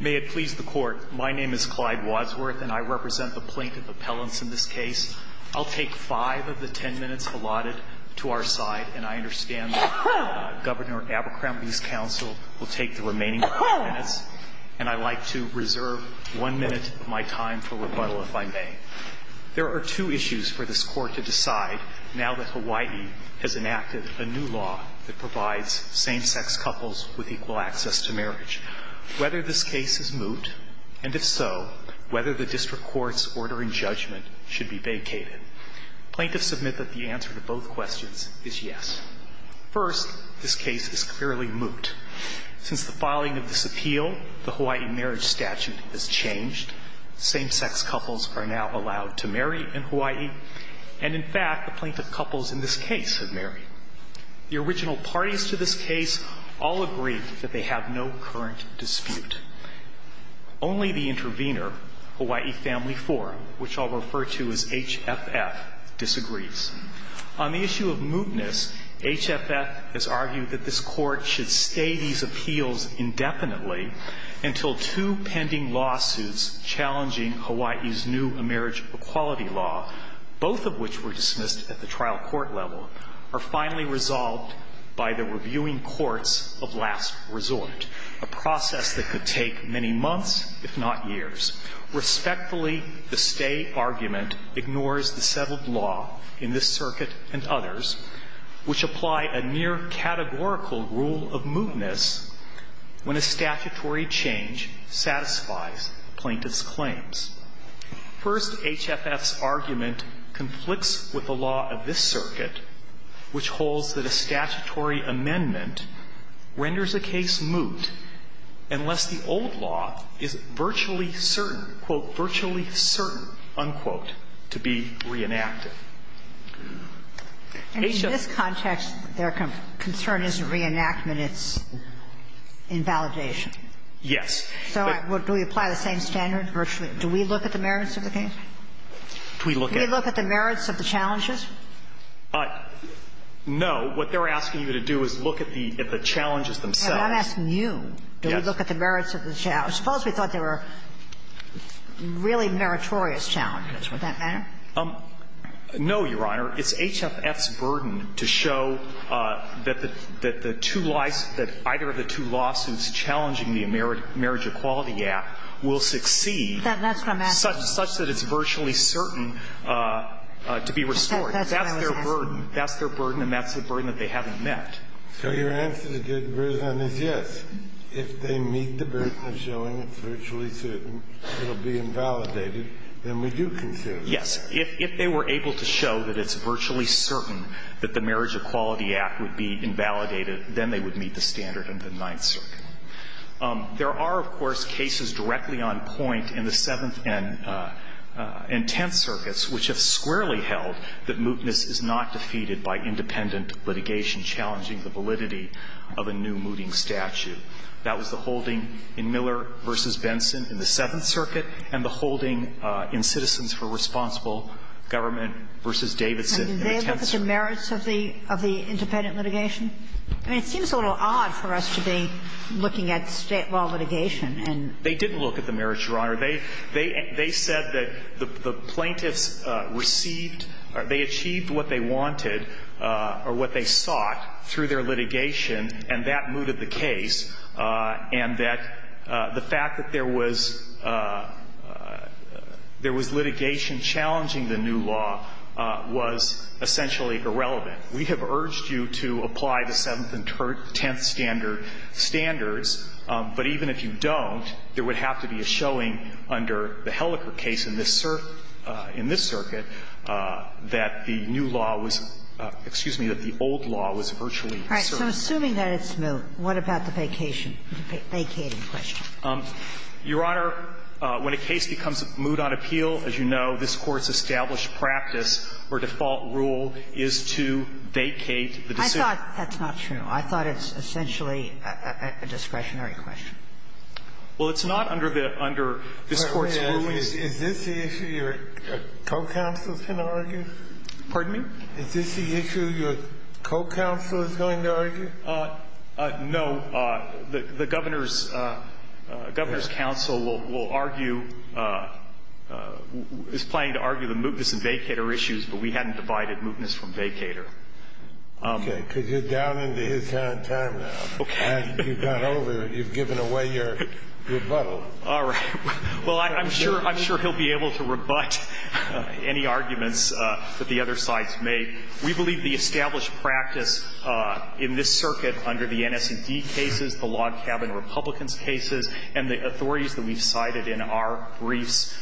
May it please the court, my name is Clyde Wadsworth and I represent the plaintiff appellants in this case. I'll take five of the ten minutes allotted to our side and I understand Governor Abercrombie's counsel will take the remaining minutes and I like to reserve one minute of my time for rebuttal if I may. There are two issues for this court to decide now that Hawaii has enacted a new law that whether this case is moot and if so, whether the district court's order in judgment should be vacated. Plaintiffs submit that the answer to both questions is yes. First, this case is clearly moot. Since the filing of this appeal, the Hawaii marriage statute has changed. Same-sex couples are now allowed to marry in Hawaii and in fact, the plaintiff couples in this case have married. The original parties to this case all agree that they have no current dispute. Only the intervener, Hawaii Family IV, which I'll refer to as HFF, disagrees. On the issue of mootness, HFF has argued that this court should stay these appeals indefinitely until two pending lawsuits challenging Hawaii's new marriage equality law, both of which were dismissed at the courts of last resort, a process that could take many months, if not years. Respectfully, the stay argument ignores the settled law in this circuit and others, which apply a near categorical rule of mootness when a statutory change satisfies plaintiff's claims. First, HFF's argument conflicts with the law of this circuit, which holds that a statutory amendment renders a case moot unless the old law is virtually certain, quote, "'virtually certain,' unquote, to be reenacted. And in this context, their concern isn't reenactment, it's invalidation. Yes. So do we apply the same standard virtually? Do we look at the merits of the case? Do we look at the merits of the challenges? No. What they're asking you to do is look at the challenges themselves. I'm asking you, do we look at the merits of the challenge? Suppose we thought there were really meritorious challenges. Would that matter? No, Your Honor. It's HFF's burden to show that the two lawsuits, that either of the two lawsuits challenging the marriage equality act will succeed, such that it's virtually certain to be restored. That's their burden. That's their burden, and that's the burden that they haven't met. So your answer to Judge Breslin is yes. If they meet the burden of showing it's virtually certain it will be invalidated, then we do consider it. Yes. If they were able to show that it's virtually certain that the marriage equality act would be invalidated, then they would meet the standard in the Ninth Circuit. There are, of course, cases directly on point in the Seventh and Tenth Circuits which have squarely held that mootness is not defeated by independent litigation challenging the validity of a new mooting statute. That was the holding in Miller v. Benson in the Seventh Circuit and the holding in Citizens for Responsible Government v. Davidson in the Tenth Circuit. And did they look at the merits of the independent litigation? I mean, it seems a little odd for us to be looking at State law litigation and they didn't look at the merits, Your Honor. They said that the plaintiffs received or they achieved what they wanted or what they sought through their litigation, and that mooted the case, and that the fact that there was litigation challenging the new law was essentially irrelevant. We have urged you to apply the Seventh and Tenth standards, but even if you don't, there would have to be a showing under the Helleker case in this circuit that the new law was – excuse me, that the old law was virtually assertive. All right. So assuming that it's moot, what about the vacation, vacating question? Your Honor, when a case becomes moot on appeal, as you know, this Court's established practice or default rule is to vacate the decision. I thought that's not true. I thought it's essentially a discretionary question. Well, it's not under the – under this Court's ruling. Is this the issue your co-counsel is going to argue? Pardon me? Is this the issue your co-counsel is going to argue? No. The Governor's – Governor's counsel will argue – is planning to argue the mootness and vacater issues, but we hadn't divided mootness from vacater. Okay. Because you're down into your time now. Okay. And you've gone over – you've given away your rebuttal. All right. Well, I'm sure – I'm sure he'll be able to rebut any arguments that the other sides make. We believe the established practice in this circuit under the NS&D cases, the log cabin Republicans' cases, and the authorities that we've cited in our briefs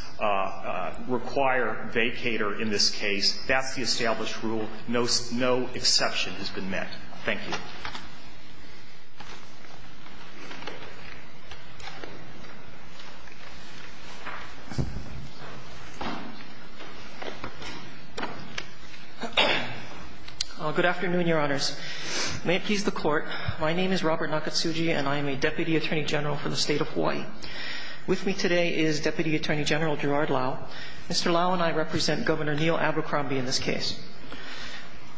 require vacater in this case. That's the established rule. No – no exception has been met. Thank you. Good afternoon, Your Honors. May it please the Court, my name is Robert Nakatsuji, and I am a Deputy Attorney General for the State of Hawaii. With me today is Deputy Attorney General Gerard Lau. Mr. Lau and I represent Governor Neil Abercrombie in this case.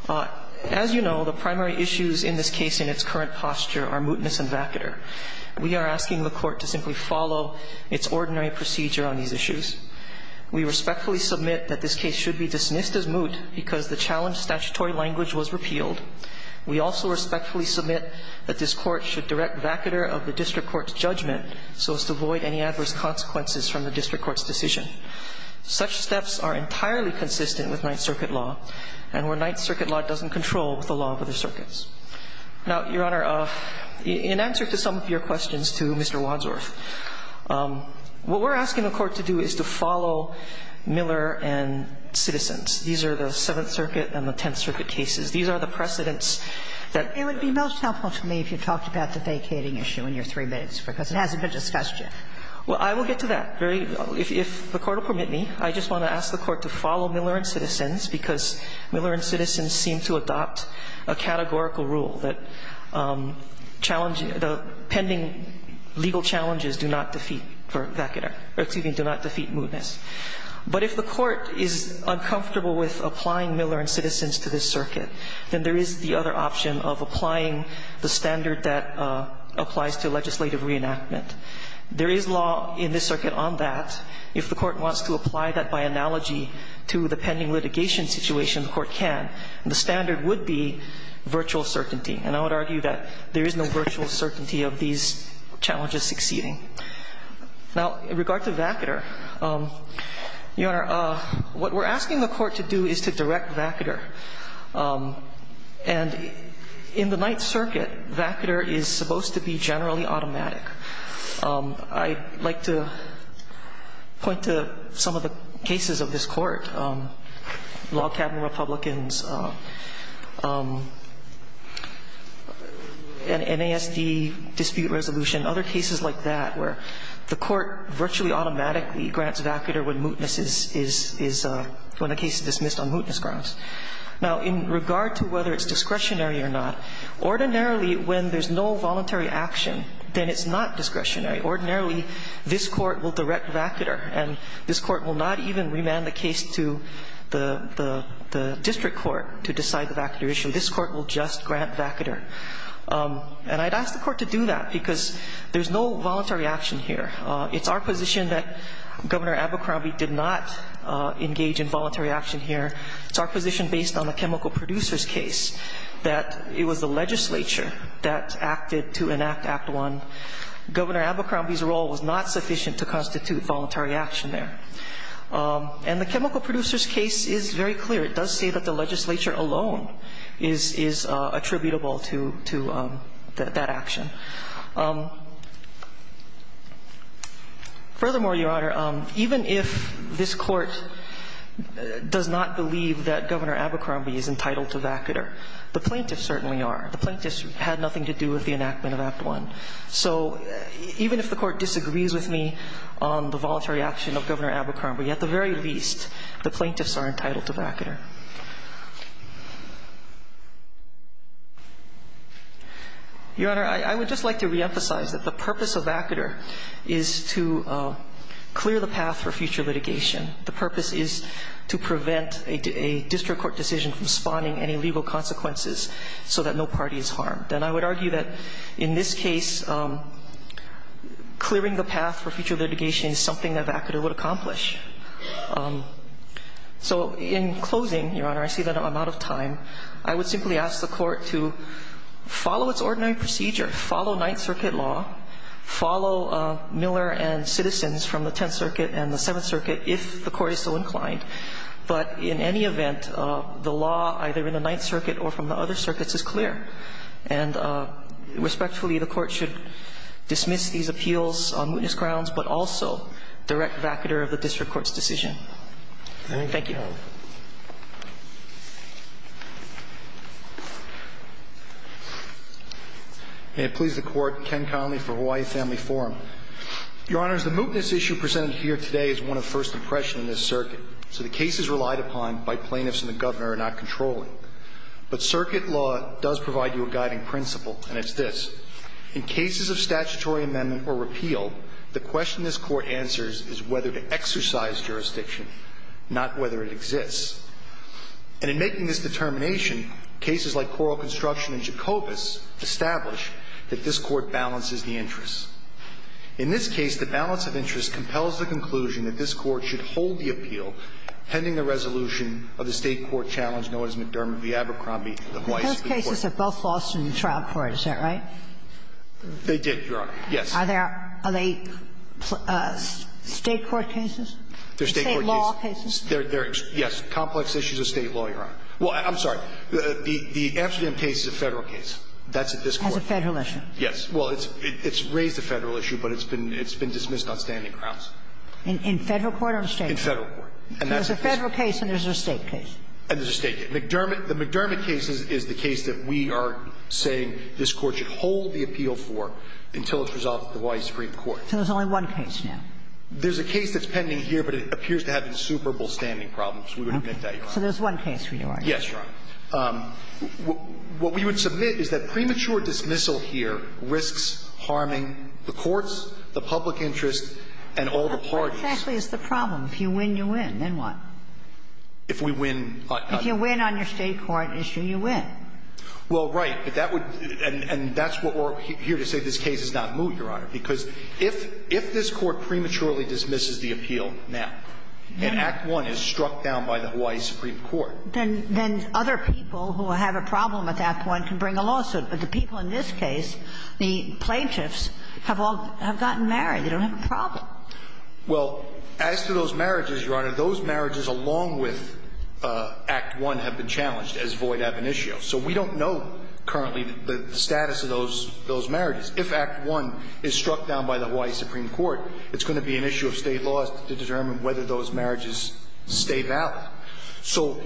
As you know, the primary issues in this case in its current posture are mootness and vacater. We are asking the Court to simply follow its ordinary procedure on these issues. We respectfully submit that this case should be dismissed as moot because the challenge statutory language was repealed. We also respectfully submit that this Court should direct vacater of the district court's judgment so as to avoid any adverse consequences from the district court's decision. Such steps are entirely consistent with Ninth Circuit law, and where Ninth Circuit law doesn't control the law of other circuits. Now, Your Honor, in answer to some of your questions to Mr. Wadsworth, what we're asking the Court to do is to follow Miller and Citizens. These are the Seventh Circuit and the Tenth Circuit cases. These are the precedents that the Court has to follow. It would be most helpful to me if you talked about the vacating issue in your three minutes, because it hasn't been discussed yet. Well, I will get to that. If the Court will permit me, I just want to ask the Court to follow Miller and Citizens because Miller and Citizens seem to adopt a categorical rule that challenging the pending legal challenges do not defeat for vacater or, excuse me, do not defeat mootness. But if the Court is uncomfortable with applying Miller and Citizens to this circuit, then there is the other option of applying the standard that applies to legislative reenactment. There is law in this circuit on that. If the Court wants to apply that by analogy to the pending litigation situation, the Court can. The standard would be virtual certainty. And I would argue that there is no virtual certainty of these challenges succeeding. Now, in regard to vacater, Your Honor, what we're asking the Court to do is to direct vacater. And in the Ninth Circuit, vacater is supposed to be generally automatic. I'd like to point to some of the cases of this Court, Log Cabin Republicans, NASD dispute resolution, other cases like that, where the Court virtually automatically grants vacater when mootness is, when a case is dismissed on mootness grounds. Now, in regard to whether it's discretionary or not, ordinarily, when there's no discretionary, ordinarily, this Court will direct vacater. And this Court will not even remand the case to the district court to decide the vacater issue. This Court will just grant vacater. And I'd ask the Court to do that because there's no voluntary action here. It's our position that Governor Abercrombie did not engage in voluntary action here. It's our position, based on the chemical producers case, that it was the legislature that acted to enact Act I. Governor Abercrombie's role was not sufficient to constitute voluntary action there. And the chemical producers case is very clear. It does say that the legislature alone is attributable to that action. Furthermore, Your Honor, even if this Court does not believe that Governor Abercrombie is entitled to vacater, the plaintiffs certainly are. The plaintiffs had nothing to do with the enactment of Act I. So even if the Court disagrees with me on the voluntary action of Governor Abercrombie, at the very least, the plaintiffs are entitled to vacater. Your Honor, I would just like to reemphasize that the purpose of vacater is to clear the path for future litigation. The purpose is to prevent a district court decision from spawning any legal consequences so that no party is harmed. And I would argue that in this case, clearing the path for future litigation is something that vacater would accomplish. So in closing, Your Honor, I see that I'm out of time. I would simply ask the Court to follow its ordinary procedure, follow Ninth Circuit law, follow Miller and citizens from the Tenth Circuit and the Seventh Circuit if the Court is so inclined. But in any event, the law either in the Ninth Circuit or from the other circuits is clear. And respectfully, the Court should dismiss these appeals on mootness grounds but also direct vacater of the district court's decision. Thank you. May it please the Court, Ken Connolly for Hawaii Family Forum. Your Honors, the mootness issue presented here today is one of first impression in this circuit. So the cases relied upon by plaintiffs and the Governor are not controlling. But circuit law does provide you a guiding principle, and it's this. In cases of statutory amendment or repeal, the question this Court answers is whether to exercise jurisdiction, not whether it exists. And in making this determination, cases like Coral Construction and Jacobus establish that this Court balances the interests. In this case, the balance of interest compels the conclusion that this Court should hold the appeal pending the resolution of the State court challenge known as McDermott v. Abercrombie v. Weiss v. Porter. Those cases are both lost in the trial court. Is that right? They did, Your Honor. Yes. Are they State court cases? They're State court cases. State law cases? They're, yes. Complex issues of State law, Your Honor. Well, I'm sorry. The Amsterdam case is a Federal case. That's at this Court. That's a Federal issue. Yes. Well, it's raised a Federal issue, but it's been dismissed on standing grounds. In Federal court or State court? In Federal court. There's a Federal case and there's a State case. And there's a State case. The McDermott case is the case that we are saying this Court should hold the appeal for until it's resolved at the Hawaii Supreme Court. So there's only one case now. There's a case that's pending here, but it appears to have insuperable standing problems. So there's one case we know of. Yes, Your Honor. What we would submit is that premature dismissal here risks harming the courts, the public interest, and all the parties. Exactly. It's the problem. If you win, you win. Then what? If we win. If you win on your State court issue, you win. Well, right. But that would – and that's what we're here to say. This case is not moot, Your Honor. Because if this Court prematurely dismisses the appeal now, and Act I is struck down by the Hawaii Supreme Court. Then other people who have a problem with Act I can bring a lawsuit. But the people in this case, the plaintiffs, have all – have gotten married. They don't have a problem. Well, as to those marriages, Your Honor, those marriages along with Act I have been challenged, as void ab initio. So we don't know currently the status of those marriages. If Act I is struck down by the Hawaii Supreme Court, it's going to be an issue of State laws to determine whether those marriages stay valid. So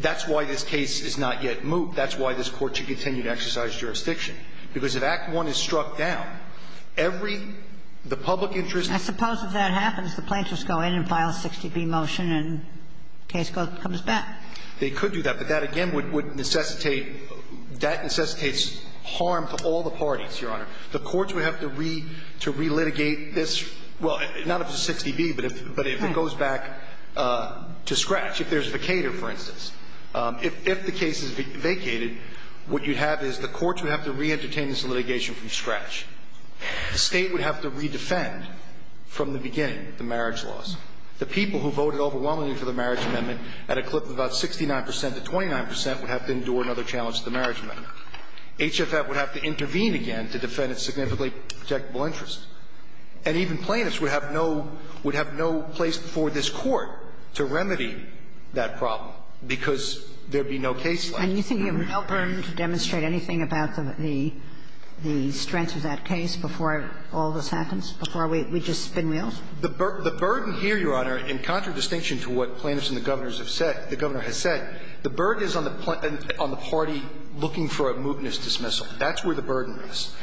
that's why this case is not yet moot. That's why this Court should continue to exercise jurisdiction. Because if Act I is struck down, every – the public interest – I suppose if that happens, the plaintiffs go in and file a 60B motion and the case comes back. They could do that. But that, again, would necessitate – that necessitates harm to all the parties, Your Honor. The courts would have to re-litigate this – well, not up to 60B, but if it goes back to scratch. If there's a vacator, for instance. If the case is vacated, what you'd have is the courts would have to re-entertain this litigation from scratch. The State would have to re-defend from the beginning the marriage laws. The people who voted overwhelmingly for the marriage amendment at a clip of about 69 percent to 29 percent would have to endure another challenge to the marriage amendment. HFF would have to intervene again to defend its significantly protectable interest. And even plaintiffs would have no – would have no place before this Court to remedy that problem, because there'd be no case like that. And you think you have no burden to demonstrate anything about the – the strength of that case before all this happens, before we just spin wheels? The burden here, Your Honor, in contradistinction to what plaintiffs and the Governors have said – the Governor has said, the burden is on the party looking for a mootness dismissal. That's where the burden is.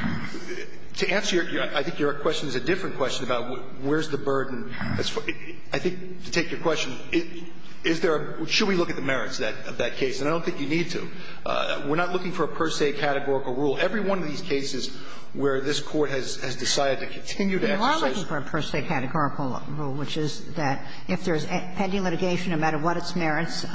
To answer your – I think your question is a different question about where's the burden. I think, to take your question, is there a – should we look at the merits of that case? And I don't think you need to. We're not looking for a per se categorical rule. Every one of these cases where this Court has decided to continue to exercise We are looking for a per se categorical rule, which is that if there's pending litigation, no matter what its merits,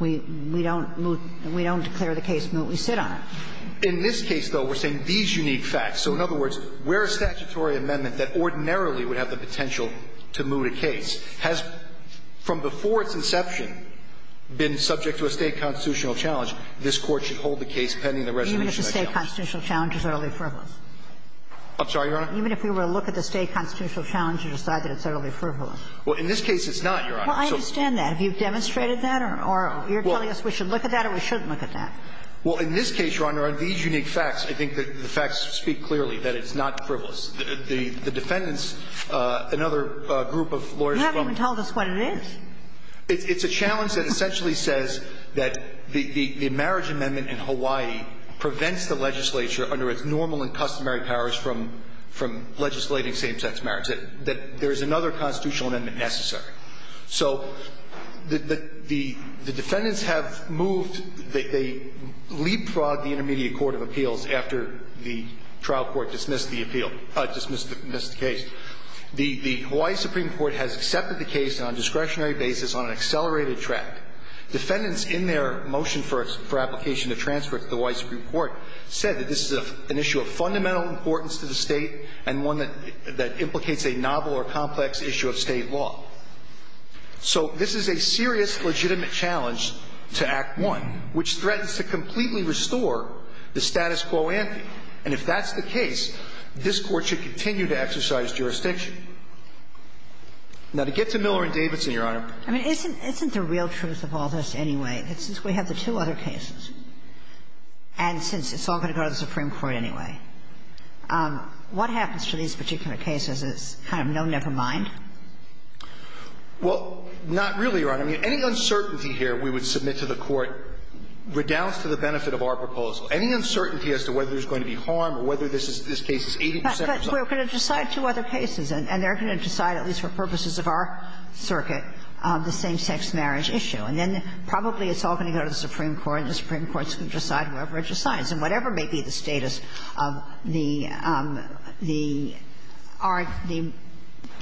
we don't declare the case moot. We sit on it. In this case, though, we're saying these unique facts. So in other words, where a statutory amendment that ordinarily would have the potential to moot a case has, from before its inception, been subject to a State constitutional challenge, this Court should hold the case pending the resolution of that challenge. Even if it's a State constitutional challenge, it's utterly frivolous. I'm sorry, Your Honor? Even if we were to look at the State constitutional challenge and decide that it's utterly frivolous. Well, in this case, it's not, Your Honor. Well, I understand that. Have you demonstrated that? Or you're telling us we should look at that or we shouldn't look at that? Well, in this case, Your Honor, on these unique facts, I think that the facts speak clearly, that it's not frivolous. The defendants, another group of lawyers from the State. You haven't even told us what it is. It's a challenge that essentially says that the marriage amendment in Hawaii prevents the legislature under its normal and customary powers from legislating same-sex marriage, that there is another constitutional amendment necessary. So the defendants have moved, they leapfrogged the Intermediate Court of Appeals after the trial court dismissed the appeal, dismissed the case. The Hawaii Supreme Court has accepted the case on a discretionary basis on an accelerated track. Defendants in their motion for application to transfer it to the Hawaii Supreme Court said that this is an issue of fundamental importance to the State and one that implicates a novel or complex issue of State law. So this is a serious legitimate challenge to Act I, which threatens to completely restore the status quo ante. And if that's the case, this Court should continue to exercise jurisdiction. Now, to get to Miller and Davidson, Your Honor. I mean, isn't the real truth of all this, anyway, that since we have the two other cases, and since it's all going to go to the Supreme Court anyway, what happens to these particular cases is kind of no never mind? Well, not really, Your Honor. I mean, any uncertainty here we would submit to the Court redoubts to the benefit of our proposal. Any uncertainty as to whether there's going to be harm or whether this is this case is 80 percent or something. But we're going to decide two other cases, and they're going to decide, at least for purposes of our circuit, the same-sex marriage issue. And then probably it's all going to go to the Supreme Court, and the Supreme Court is going to decide whoever it decidess. And whatever may be the status of the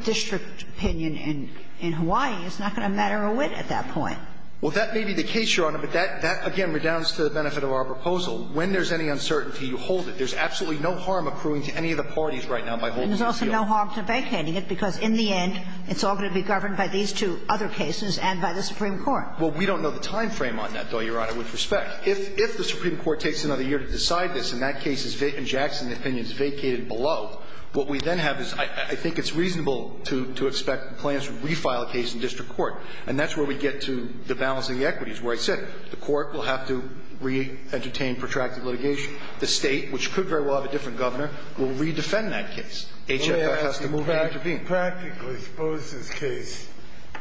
district opinion in Hawaii is not going to matter a whit at that point. Well, that may be the case, Your Honor. But that, again, redounds to the benefit of our proposal. When there's any uncertainty, you hold it. There's absolutely no harm accruing to any of the parties right now by holding this deal. And there's also no harm to vacating it, because in the end, it's all going to be governed by these two other cases and by the Supreme Court. Well, we don't know the time frame on that, though, Your Honor, with respect. But if the Supreme Court takes another year to decide this, and that case is vacated in Jackson, the opinion is vacated below, what we then have is I think it's reasonable to expect the plaintiffs to refile a case in district court. And that's where we get to the balancing of equities, where I said the court will have to re-entertain protracted litigation. The State, which could very well have a different governor, will re-defend that case. HFL has to move in and intervene. I mean, practically, suppose this case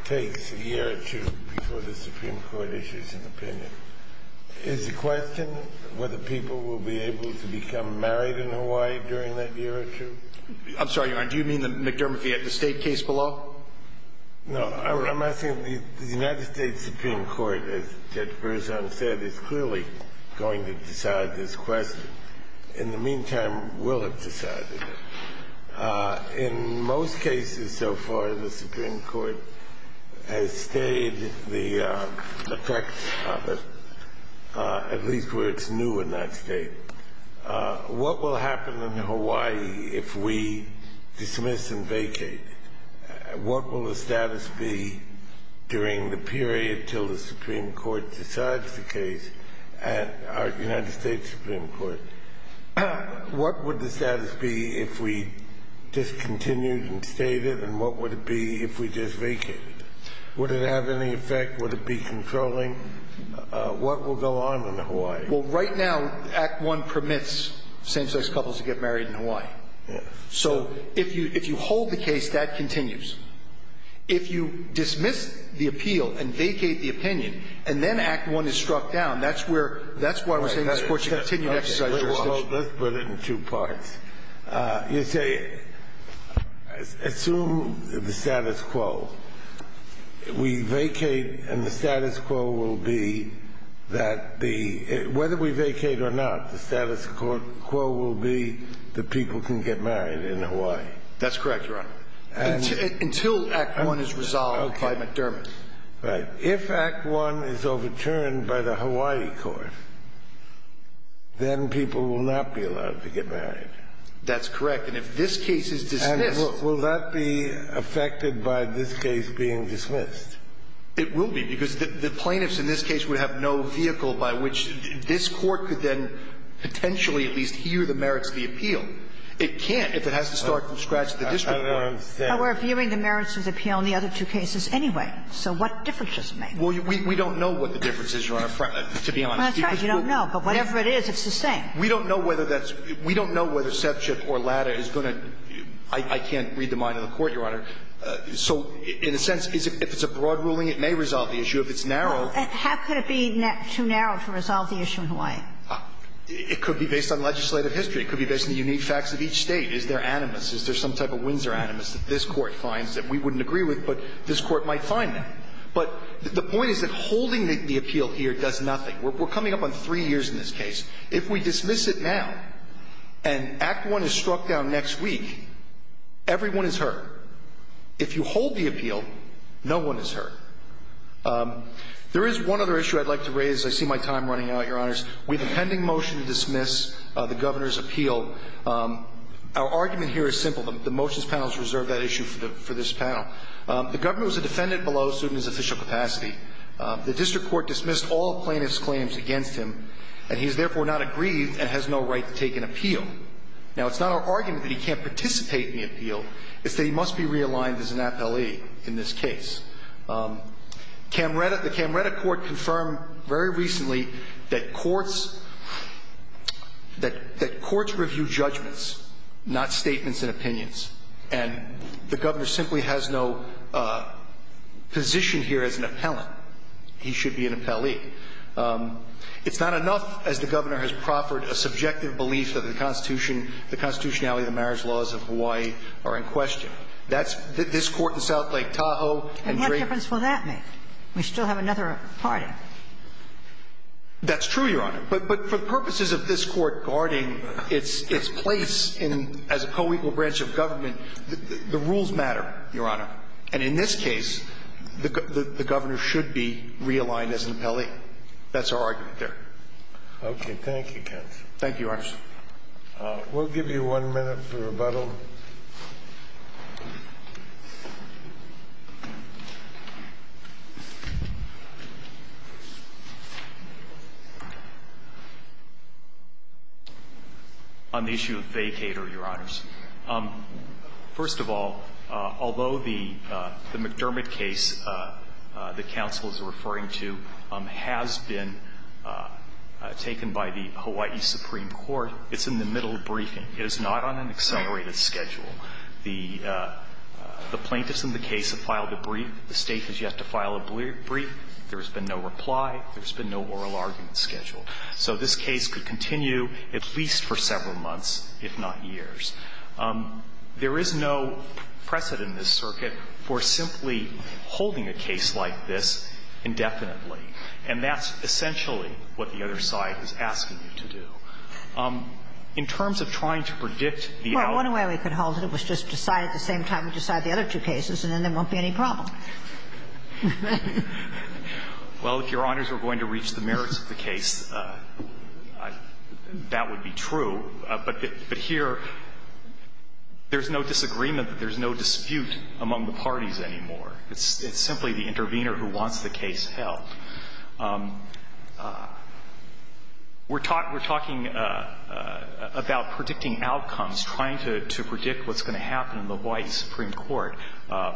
takes a year or two before the Supreme Court issues an opinion. Is the question whether people will be able to become married in Hawaii during that year or two? I'm sorry, Your Honor. Do you mean the McDermott v. Etta State case below? No. I'm asking the United States Supreme Court, as Judge Berzon said, is clearly going to decide this question. In the meantime, will have decided it. In most cases so far, the Supreme Court has stayed the correct office, at least where it's new in that State. What will happen in Hawaii if we dismiss and vacate? What will the status be during the period until the Supreme Court decides the case at our United States Supreme Court? What would the status be if we discontinued and stayed it, and what would it be if we just vacated? Would it have any effect? Would it be controlling? What will go on in Hawaii? Well, right now, Act I permits same-sex couples to get married in Hawaii. Yes. So if you hold the case, that continues. If you dismiss the appeal and vacate the opinion, and then Act I is struck down, that's where we're saying the Supreme Court should continue to exercise jurisdiction. Let's put it in two parts. You say, assume the status quo. We vacate, and the status quo will be that the – whether we vacate or not, the status quo will be that people can get married in Hawaii. That's correct, Your Honor. Until Act I is resolved by McDermott. Right. If Act I is overturned by the Hawaii court, then people will not be allowed to get married. That's correct. And if this case is dismissed – And will that be affected by this case being dismissed? It will be, because the plaintiffs in this case would have no vehicle by which this court could then potentially at least hear the merits of the appeal. It can't if it has to start from scratch at the district court. I don't understand. But we're viewing the merits of the appeal in the other two cases anyway. So what difference does it make? Well, we don't know what the difference is, Your Honor, to be honest. That's right. You don't know. But whatever it is, it's the same. We don't know whether that's – we don't know whether Sepship or Latta is going to – I can't read the mind of the Court, Your Honor. So in a sense, if it's a broad ruling, it may resolve the issue. If it's narrow – How could it be too narrow to resolve the issue in Hawaii? It could be based on legislative history. It could be based on the unique facts of each State. Is there animus? Is there animus that this Court finds that we wouldn't agree with but this Court might find now? But the point is that holding the appeal here does nothing. We're coming up on three years in this case. If we dismiss it now and Act I is struck down next week, everyone is hurt. If you hold the appeal, no one is hurt. There is one other issue I'd like to raise. I see my time running out, Your Honors. We have a pending motion to dismiss the Governor's appeal. Our argument here is simple. The motions panel has reserved that issue for this panel. The Governor was a defendant below suit in his official capacity. The District Court dismissed all plaintiff's claims against him and he is therefore not aggrieved and has no right to take an appeal. Now, it's not our argument that he can't participate in the appeal. It's that he must be realigned as an appellee in this case. The Camretta Court confirmed very recently that courts – that courts review judgments, not statements and opinions. And the Governor simply has no position here as an appellant. He should be an appellee. It's not enough as the Governor has proffered a subjective belief that the constitutionality of the marriage laws of Hawaii are in question. That's – this Court in South Lake Tahoe – And what difference will that make? We still have another party. That's true, Your Honor. But for purposes of this Court guarding its place as a co-equal branch of government, the rules matter, Your Honor. And in this case, the Governor should be realigned as an appellee. That's our argument there. Okay. Thank you, counsel. Thank you, Your Honor. We'll give you one minute for rebuttal. On the issue of vacator, Your Honors. First of all, although the McDermott case the counsel is referring to has been taken by the Hawaii Supreme Court, it's in the middle of briefing. It is not on an accelerated schedule. The plaintiffs in the case have filed a brief. The State has yet to file a brief. There has been no reply. There has been no oral argument scheduled. So this case could continue at least for several months, if not years. There is no precedent in this circuit for simply holding a case like this indefinitely. And that's essentially what the other side is asking you to do. In terms of trying to predict the outcome – Well, one way we could hold it was just decide at the same time we decide the other two cases, and then there won't be any problem. Well, if Your Honors were going to reach the merits of the case, that would be true. But here, there's no disagreement, there's no dispute among the parties anymore. It's simply the intervener who wants the case held. We're talking about predicting outcomes, trying to predict what's going to happen in the White Supreme Court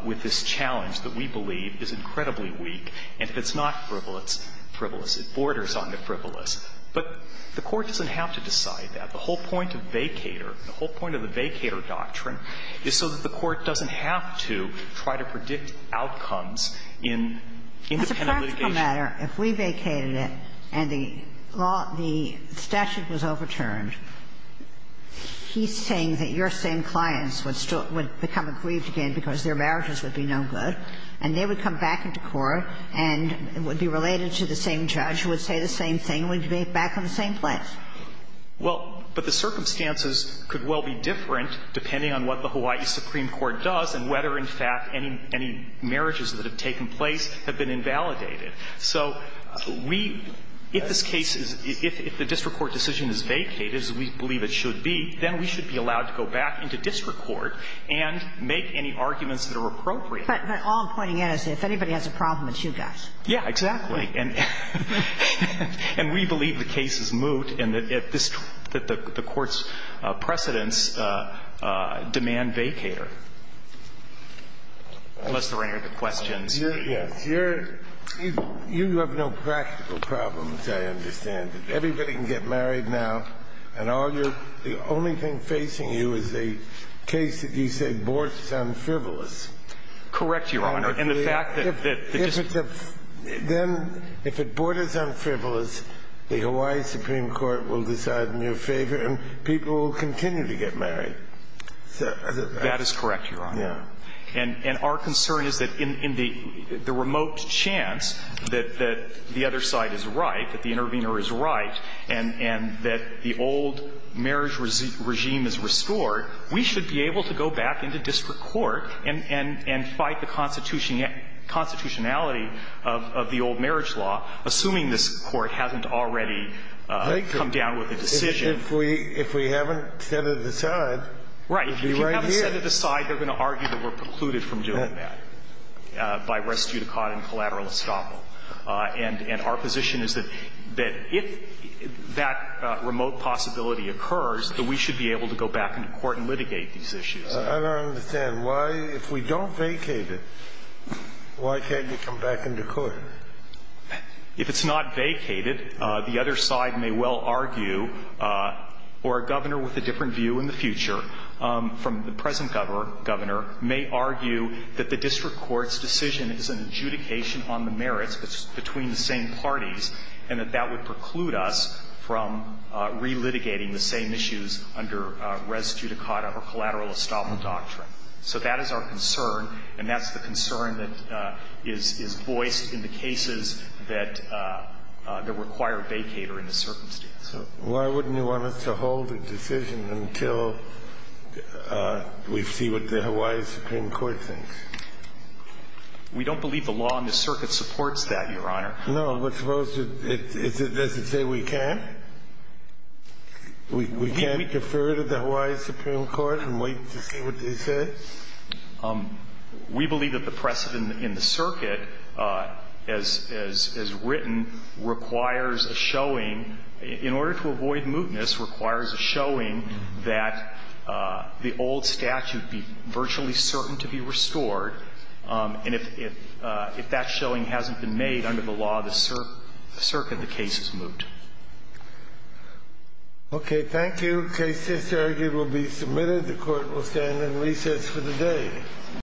with this challenge that we believe is incredibly weak, and if it's not frivolous, it borders on the frivolous. But the Court doesn't have to decide that. The whole point of vacator, the whole point of the vacator doctrine is so that the Court doesn't have to try to predict outcomes in independent litigation. It's a practical matter. If we vacated it and the statute was overturned, he's saying that your same clients would become aggrieved again because their marriages would be no good, and they would come back into court and would be related to the same judge who would say the same thing, would be back in the same place. Well, but the circumstances could well be different depending on what the Hawaii Supreme Court does and whether, in fact, any marriages that have taken place have been invalidated. So we – if this case is – if the district court decision is vacated, as we believe it should be, then we should be allowed to go back into district court and make any arguments that are appropriate. But all I'm pointing out is if anybody has a problem, it's you guys. Yeah, exactly. And we believe the case is moot and that this – that the Court's precedents demand vacator, unless there are any other questions. Yes. Your – you have no practical problems, I understand. Everybody can get married now, and all your – the only thing facing you is the case that you said borders on frivolous. Correct, Your Honor. And the fact that – If it's a – then, if it borders on frivolous, the Hawaii Supreme Court will decide in your favor, and people will continue to get married. That is correct, Your Honor. Yeah. And our concern is that in the remote chance that the other side is right, that the intervener is right, and that the old marriage regime is restored, we should be able to go back into district court and fight the constitutionality of the old marriage law, assuming this Court hasn't already come down with a decision. If we haven't set it aside, we'll be right here. Right. If you haven't set it aside, they're going to argue that we're precluded from doing that by res judicata and collateral estoppel. And our position is that if that remote possibility occurs, that we should be able to go back into court and litigate these issues. I don't understand. Why – if we don't vacate it, why can't you come back into court? If it's not vacated, the other side may well argue, or a governor with a different view in the future from the present governor may argue that the district court's decision is an adjudication on the merits between the same parties and that that would preclude us from relitigating the same issues under res judicata or collateral estoppel doctrine. So that is our concern, and that's the concern that is voiced in the cases that require vacater in the circumstances. So why wouldn't you want us to hold a decision until we see what the Hawaii Supreme Court thinks? We don't believe the law in the circuit supports that, Your Honor. No. We're supposed to – does it say we can't? We can't defer to the Hawaii Supreme Court and wait to see what they say? We believe that the precedent in the circuit, as written, requires a showing. In order to avoid mootness, requires a showing that the old statute be virtually certain to be restored, and if that showing hasn't been made under the law, the circuit, the case is moot. Okay. Thank you. The case is here. It will be submitted. The Court will stand in recess for the day.